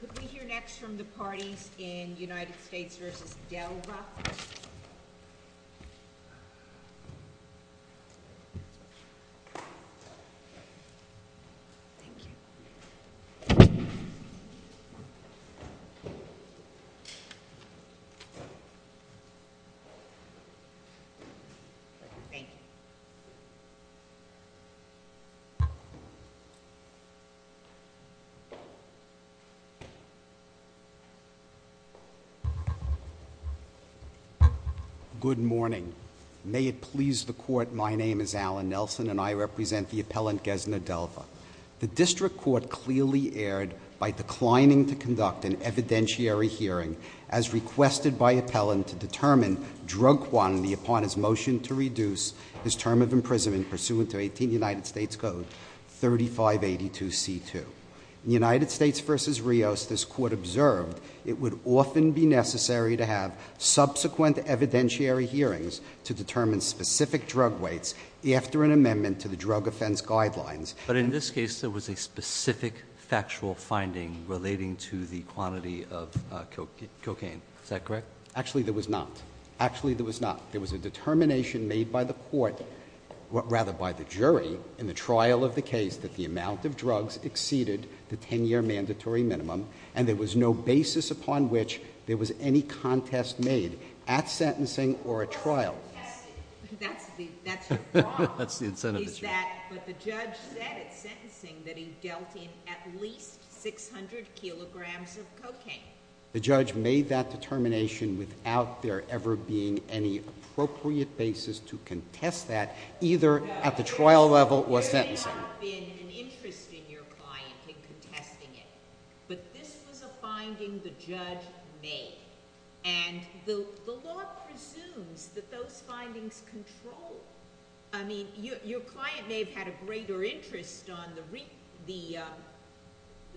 Could we hear next from the parties in United States v. Delva? Thank you. Thank you. Good morning. May it please the court, my name is Alan Nelson and I represent the appellant Gessner-Delva. The district court clearly erred by declining to conduct an evidentiary hearing as requested by appellant to determine drug quantity upon his motion to reduce his term of imprisonment pursuant to 18 United States Code 3582C2. In United States v. Rios, this court observed it would often be necessary to have subsequent evidentiary hearings to determine specific drug weights after an amendment to the drug offense guidelines. But in this case, there was a specific factual finding relating to the quantity of cocaine. Is that correct? Actually, there was not. Actually, there was not. There was a determination made by the court, rather by the jury, in the trial of the case that the amount of drugs exceeded the 10-year mandatory minimum and there was no basis upon which there was any contest made at sentencing or at trial. That's the problem. That's the incentive issue. But the judge said at sentencing that he dealt in at least 600 kilograms of cocaine. The judge made that determination without there ever being any appropriate basis to contest that either at the trial level or sentencing. There may not have been an interest in your client in contesting it. But this was a finding the judge made. And the law presumes that those findings control. I mean, your client may have had a greater interest on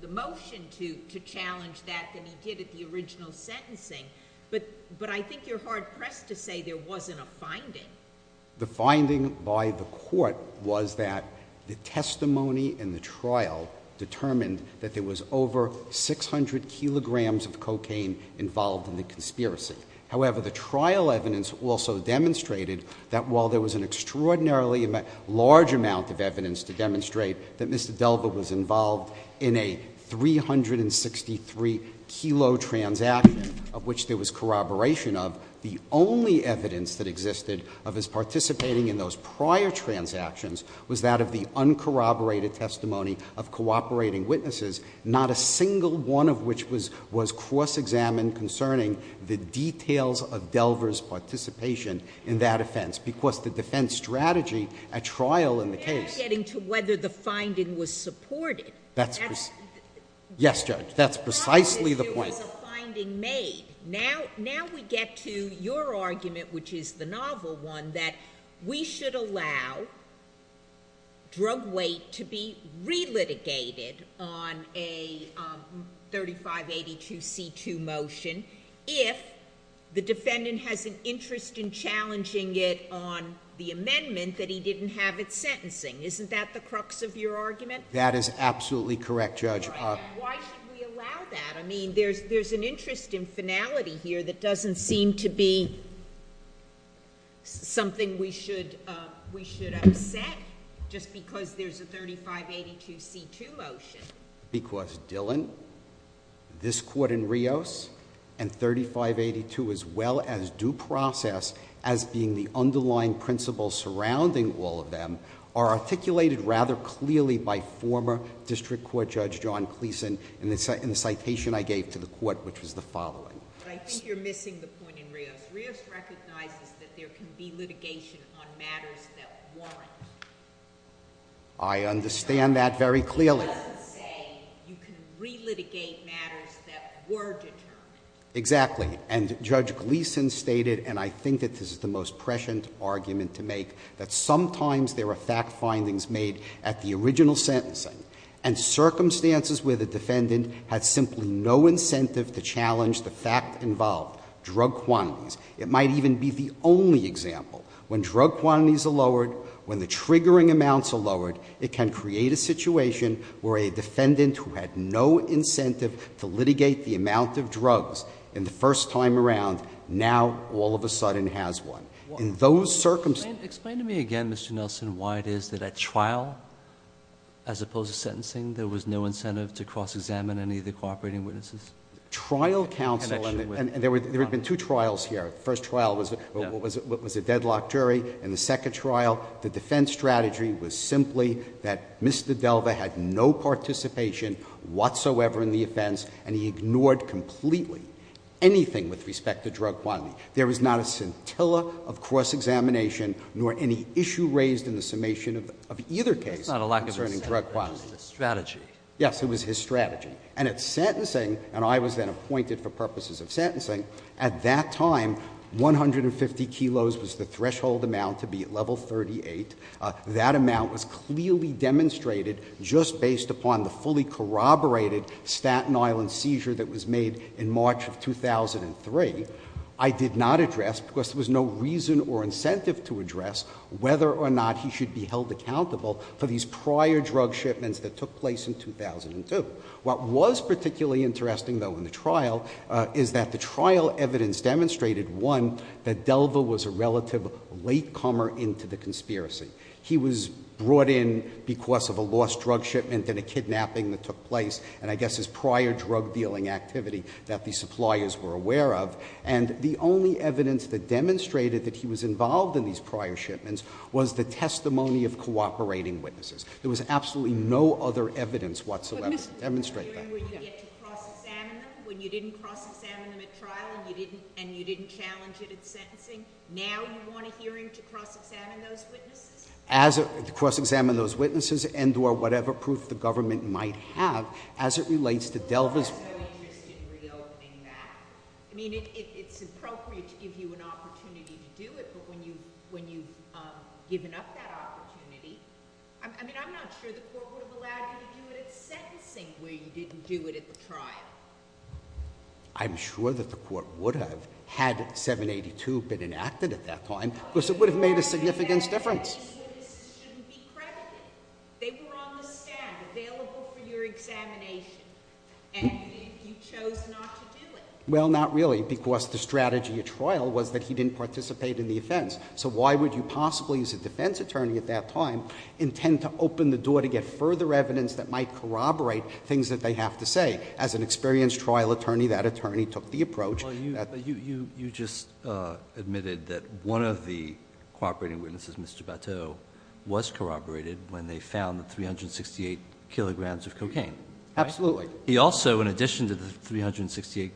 the motion to challenge that than he did at the original sentencing. But I think you're hard-pressed to say there wasn't a finding. The finding by the court was that the testimony in the trial determined that there was over 600 kilograms of cocaine involved in the conspiracy. However, the trial evidence also demonstrated that while there was an extraordinarily large amount of evidence to demonstrate that Mr. Delver was involved in a 363-kilo transaction of which there was corroboration of, the only evidence that existed of his participating in those prior transactions was that of the uncorroborated testimony of cooperating witnesses, not a single one of which was cross-examined concerning the details of Delver's participation in that offense. Because the defense strategy at trial in the case— You're not getting to whether the finding was supported. Yes, Judge. That's precisely the point. The problem is there was a finding made. Now we get to your argument, which is the novel one, that we should allow drug weight to be relitigated on a 3582c2 motion if the defendant has an interest in challenging it on the amendment that he didn't have it sentencing. Isn't that the crux of your argument? That is absolutely correct, Judge. Why should we allow that? I mean, there's an interest in finality here that doesn't seem to be something we should upset just because there's a 3582c2 motion. Because Dillon, this Court in Rios, and 3582 as well as due process as being the underlying principle surrounding all of them are articulated rather clearly by former District Court Judge John Cleason in the citation I gave to the Court, which was the following. I think you're missing the point in Rios. Rios recognizes that there can be litigation on matters that warrant— I understand that very clearly. But it doesn't say you can relitigate matters that were determined. Exactly. And Judge Cleason stated, and I think that this is the most prescient argument to make, that sometimes there are fact findings made at the original sentencing and circumstances where the defendant had simply no incentive to challenge the fact involved. Drug quantities. It might even be the only example. When drug quantities are lowered, when the triggering amounts are lowered, it can create a situation where a defendant who had no incentive to litigate the amount of drugs in the first time around, now all of a sudden has one. In those circumstances— Explain to me again, Mr. Nelson, why it is that at trial, as opposed to sentencing, there was no incentive to cross-examine any of the cooperating witnesses? Trial counsel— In connection with— And there had been two trials here. The first trial was a deadlock jury. In the second trial, the defense strategy was simply that Mr. Delva had no participation whatsoever in the offense, and he ignored completely anything with respect to drug quantity. There was not a scintilla of cross-examination nor any issue raised in the summation It's not a lack of incentive. It's a strategy. Yes. It was his strategy. And at sentencing, and I was then appointed for purposes of sentencing, at that time, 150 kilos was the threshold amount to be at level 38. That amount was clearly demonstrated just based upon the fully corroborated Staten Island seizure that was made in March of 2003. I did not address, because there was no reason or incentive to address whether or not he should be held accountable for these prior drug shipments that took place in 2002. What was particularly interesting, though, in the trial is that the trial evidence demonstrated, one, that Delva was a relative latecomer into the conspiracy. He was brought in because of a lost drug shipment and a kidnapping that took place and, I guess, his prior drug dealing activity that the suppliers were aware of. And the only evidence that demonstrated that he was involved in these prior shipments was the testimony of cooperating witnesses. There was absolutely no other evidence whatsoever. Let me demonstrate that. When you get to cross-examine them, when you didn't cross-examine them at trial and you didn't challenge it at sentencing, now you want a hearing to cross-examine those witnesses? To cross-examine those witnesses and or whatever proof the government might have as it relates to Delva's- I know you're interested in reopening that. I mean, it's appropriate to give you an opportunity to do it, but when you've given up that opportunity, I mean, I'm not sure the court would have allowed you to do it at sentencing where you didn't do it at the trial. I'm sure that the court would have, had 782 been enacted at that time, because it would have made a significant difference. But the strategy of the witnesses shouldn't be credited. They were on the stand, available for your examination, and you chose not to do it. Well, not really, because the strategy at trial was that he didn't participate in the offense. So why would you possibly, as a defense attorney at that time, intend to open the door to get further evidence that might corroborate things that they have to say? As an experienced trial attorney, that attorney took the approach. Well, you just admitted that one of the cooperating witnesses, Mr. Bateau, was corroborated when they found the 368 kilograms of cocaine. Absolutely. He also, in addition to the 368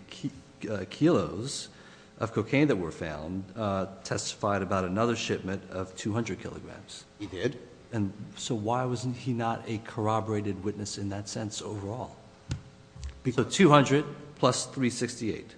kilos of cocaine that were found, testified about another shipment of 200 kilograms. He did. So why was he not a corroborated witness in that sense overall? Because 200 plus 368.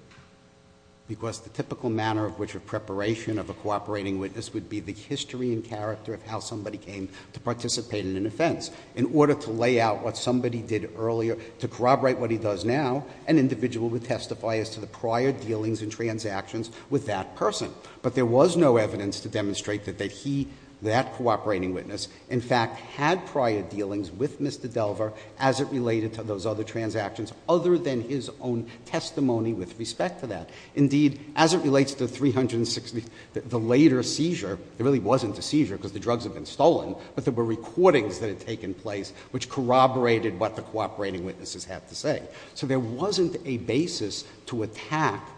Because the typical manner of which a preparation of a cooperating witness would be the history and character of how somebody came to participate in an offense. In order to lay out what somebody did earlier, to corroborate what he does now, an individual would testify as to the prior dealings and transactions with that person. But there was no evidence to demonstrate that he, that cooperating witness, in fact had prior dealings with Mr. Delver as it related to those other transactions, other than his own testimony with respect to that. Indeed, as it relates to the later seizure, it really wasn't a seizure because the drugs had been stolen, but there were recordings that had taken place which corroborated what the cooperating witnesses had to say. So there wasn't a basis to attack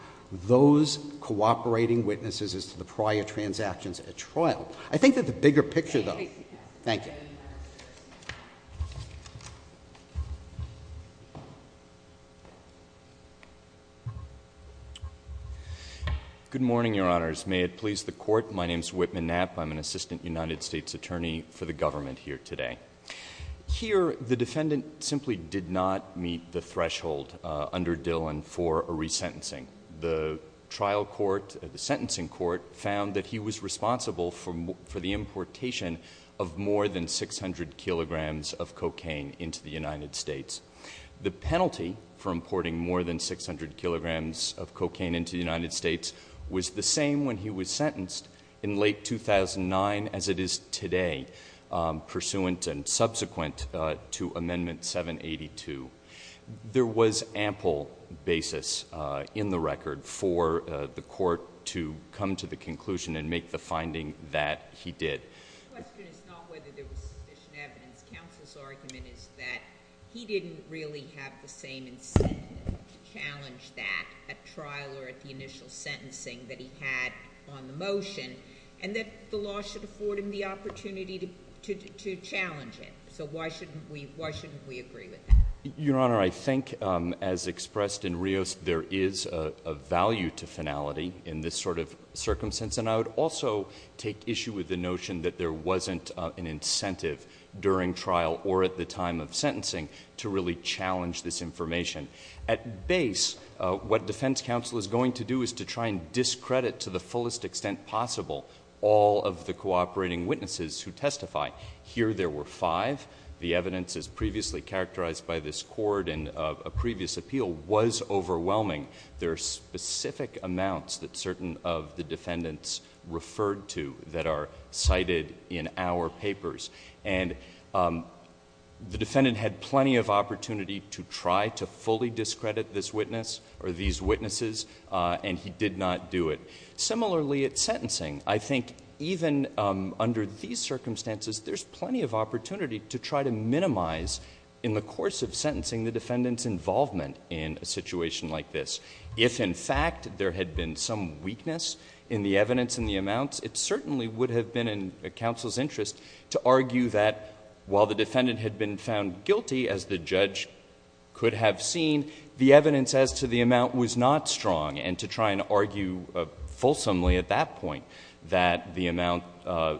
those cooperating witnesses as to the prior transactions at trial. I think that the bigger picture though. Thank you. Thank you. Good morning, Your Honors. May it please the Court. My name is Whitman Knapp. I'm an Assistant United States Attorney for the government here today. Here, the defendant simply did not meet the threshold under Dillon for a resentencing. The trial court, the sentencing court, found that he was responsible for the importation of more than 600 kilograms of cocaine into the United States. The penalty for importing more than 600 kilograms of cocaine into the United States was the same when he was sentenced in late 2009 as it is today, pursuant and subsequent to Amendment 782. There was ample basis in the record for the court to come to the conclusion and make the finding that he did. My question is not whether there was sufficient evidence. Counsel's argument is that he didn't really have the same incentive to challenge that at trial or at the initial sentencing that he had on the motion, and that the law should afford him the opportunity to challenge it. So why shouldn't we agree with that? Your Honor, I think as expressed in Rios, there is a value to finality in this sort of circumstance. And I would also take issue with the notion that there wasn't an incentive during trial or at the time of sentencing to really challenge this information. At base, what defense counsel is going to do is to try and discredit to the fullest extent possible all of the cooperating witnesses who testify. Here there were five. The evidence as previously characterized by this court in a previous appeal was overwhelming. There are specific amounts that certain of the defendants referred to that are cited in our papers. And the defendant had plenty of opportunity to try to fully discredit this witness or these witnesses, and he did not do it. Similarly at sentencing, I think even under these circumstances, there's plenty of opportunity to try to minimize in the course of sentencing the defendant's involvement in a situation like this. If, in fact, there had been some weakness in the evidence and the amounts, it certainly would have been in counsel's interest to argue that while the defendant had been found guilty, as the judge could have seen, the evidence as to the amount was not strong, and to try and argue fulsomely at that point that the amount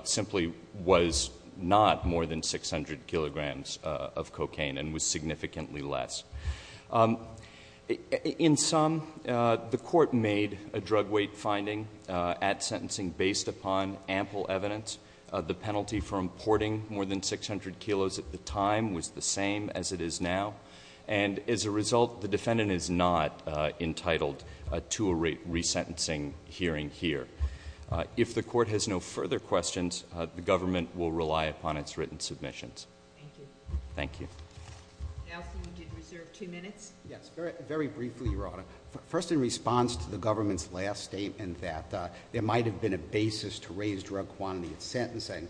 simply was not more than 600 kilograms of cocaine and was significantly less. In sum, the court made a drug weight finding at sentencing based upon ample evidence. The penalty for importing more than 600 kilos at the time was the same as it is now. And as a result, the defendant is not entitled to a resentencing hearing here. If the court has no further questions, the government will rely upon its written submissions. Thank you. Thank you. Counsel, you did reserve two minutes. Yes, very briefly, Your Honor. First, in response to the government's last statement that there might have been a basis to raise drug quantity at sentencing,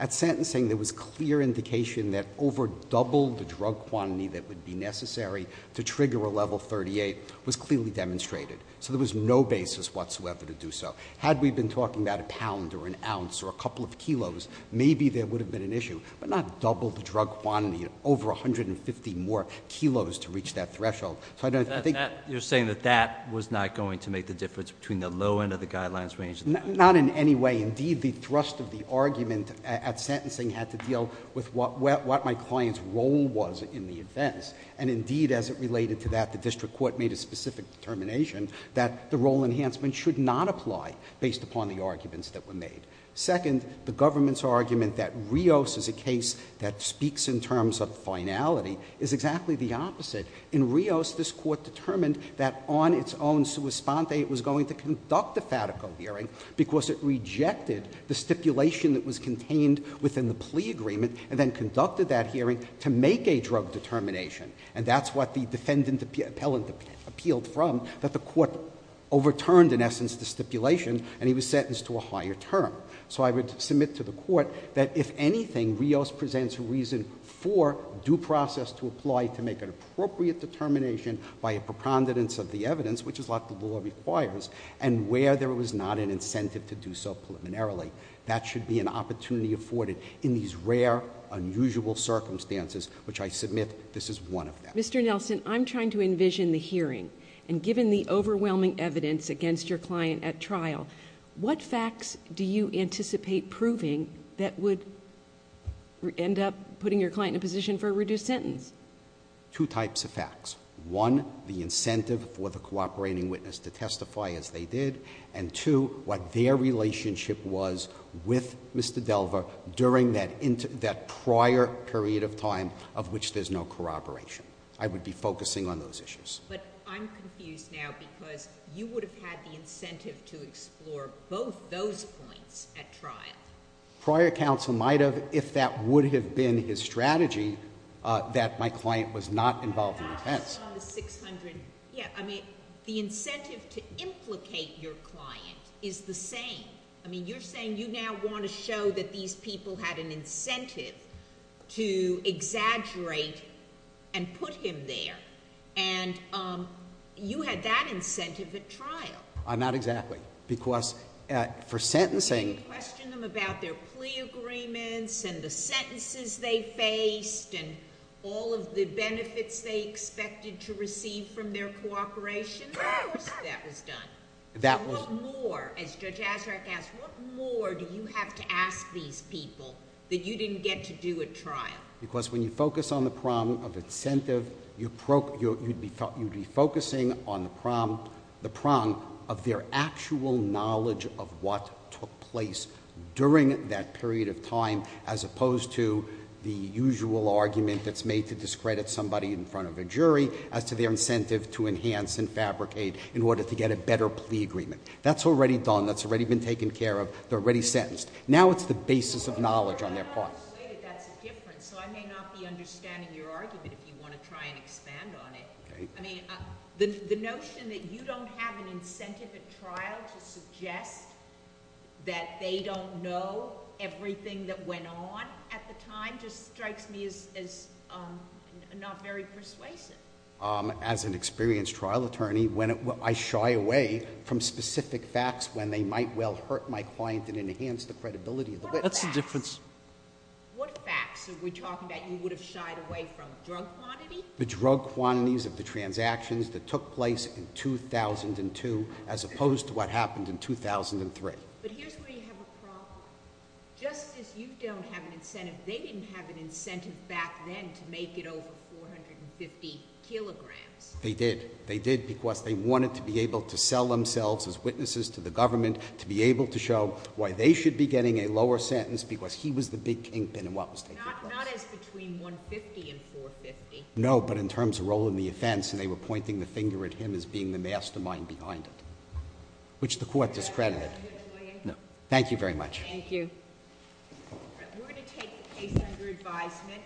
at sentencing there was clear indication that over double the drug quantity that would be necessary to trigger a level 38 was clearly demonstrated. So there was no basis whatsoever to do so. Had we been talking about a pound or an ounce or a couple of kilos, maybe there would have been an issue, but not double the drug quantity, over 150 more kilos to reach that threshold. You're saying that that was not going to make the difference between the low end of the guidelines range? Not in any way. Indeed, the thrust of the argument at sentencing had to deal with what my client's role was in the offense. And indeed, as it related to that, the district court made a specific determination that the role enhancement should not apply based upon the arguments that were made. Second, the government's argument that Rios is a case that speaks in terms of finality is exactly the opposite. In Rios, this court determined that on its own, sua sponte, it was going to conduct a fatico hearing, because it rejected the stipulation that was contained within the plea agreement, and then conducted that hearing to make a drug determination. And that's what the defendant appellant appealed from, that the court overturned, in essence, the stipulation, and he was sentenced to a higher term. So I would submit to the court that if anything, Rios presents a reason for due process to apply to make an appropriate determination by a preponderance of the evidence, which is what the law requires, and where there was not an incentive to do so preliminarily. That should be an opportunity afforded in these rare, unusual circumstances, which I submit this is one of them. Mr. Nelson, I'm trying to envision the hearing, and given the overwhelming evidence against your client at trial, what facts do you anticipate proving that would end up putting your client in a position for a reduced sentence? Two types of facts. One, the incentive for the cooperating witness to testify as they did, and two, what their relationship was with Mr. Delva during that prior period of time of which there's no corroboration. I would be focusing on those issues. But I'm confused now, because you would have had the incentive to explore both those points at trial. Prior counsel might have, if that would have been his strategy, that my client was not involved in offense. The incentive to implicate your client is the same. I mean, you're saying you now want to show that these people had an incentive to exaggerate and put him there. And you had that incentive at trial. Not exactly. Because for sentencing— That was done. That was— So what more, as Judge Azraq asked, what more do you have to ask these people that you didn't get to do at trial? Because when you focus on the problem of incentive, you'd be focusing on the problem, the problem of their actual knowledge of what took place during that period of time, as opposed to the usual argument that's made to discredit somebody in front of a jury as to their incentive to enhance and fabricate in order to get a better plea agreement. That's already done. That's already been taken care of. They're already sentenced. Now it's the basis of knowledge on their part. I'm not going to say that that's a difference, so I may not be understanding your argument if you want to try and expand on it. Okay. I mean, the notion that you don't have an incentive at trial to suggest that they don't know everything that went on at the time just strikes me as not very persuasive. As an experienced trial attorney, I shy away from specific facts when they might well hurt my client and enhance the credibility of the witness. That's the difference. What facts are we talking about you would have shied away from? Drug quantity? The drug quantities of the transactions that took place in 2002, as opposed to what happened in 2003. But here's where you have a problem. Just as you don't have an incentive, they didn't have an incentive back then to make it over 450 kilograms. They did. They did because they wanted to be able to sell themselves as witnesses to the government, to be able to show why they should be getting a lower sentence because he was the big kingpin in what was taking place. Not as between 150 and 450. No, but in terms of role in the offense, they were pointing the finger at him as being the mastermind behind it, which the court discredited. No. Thank you very much. Thank you. We're going to take the case under advisement.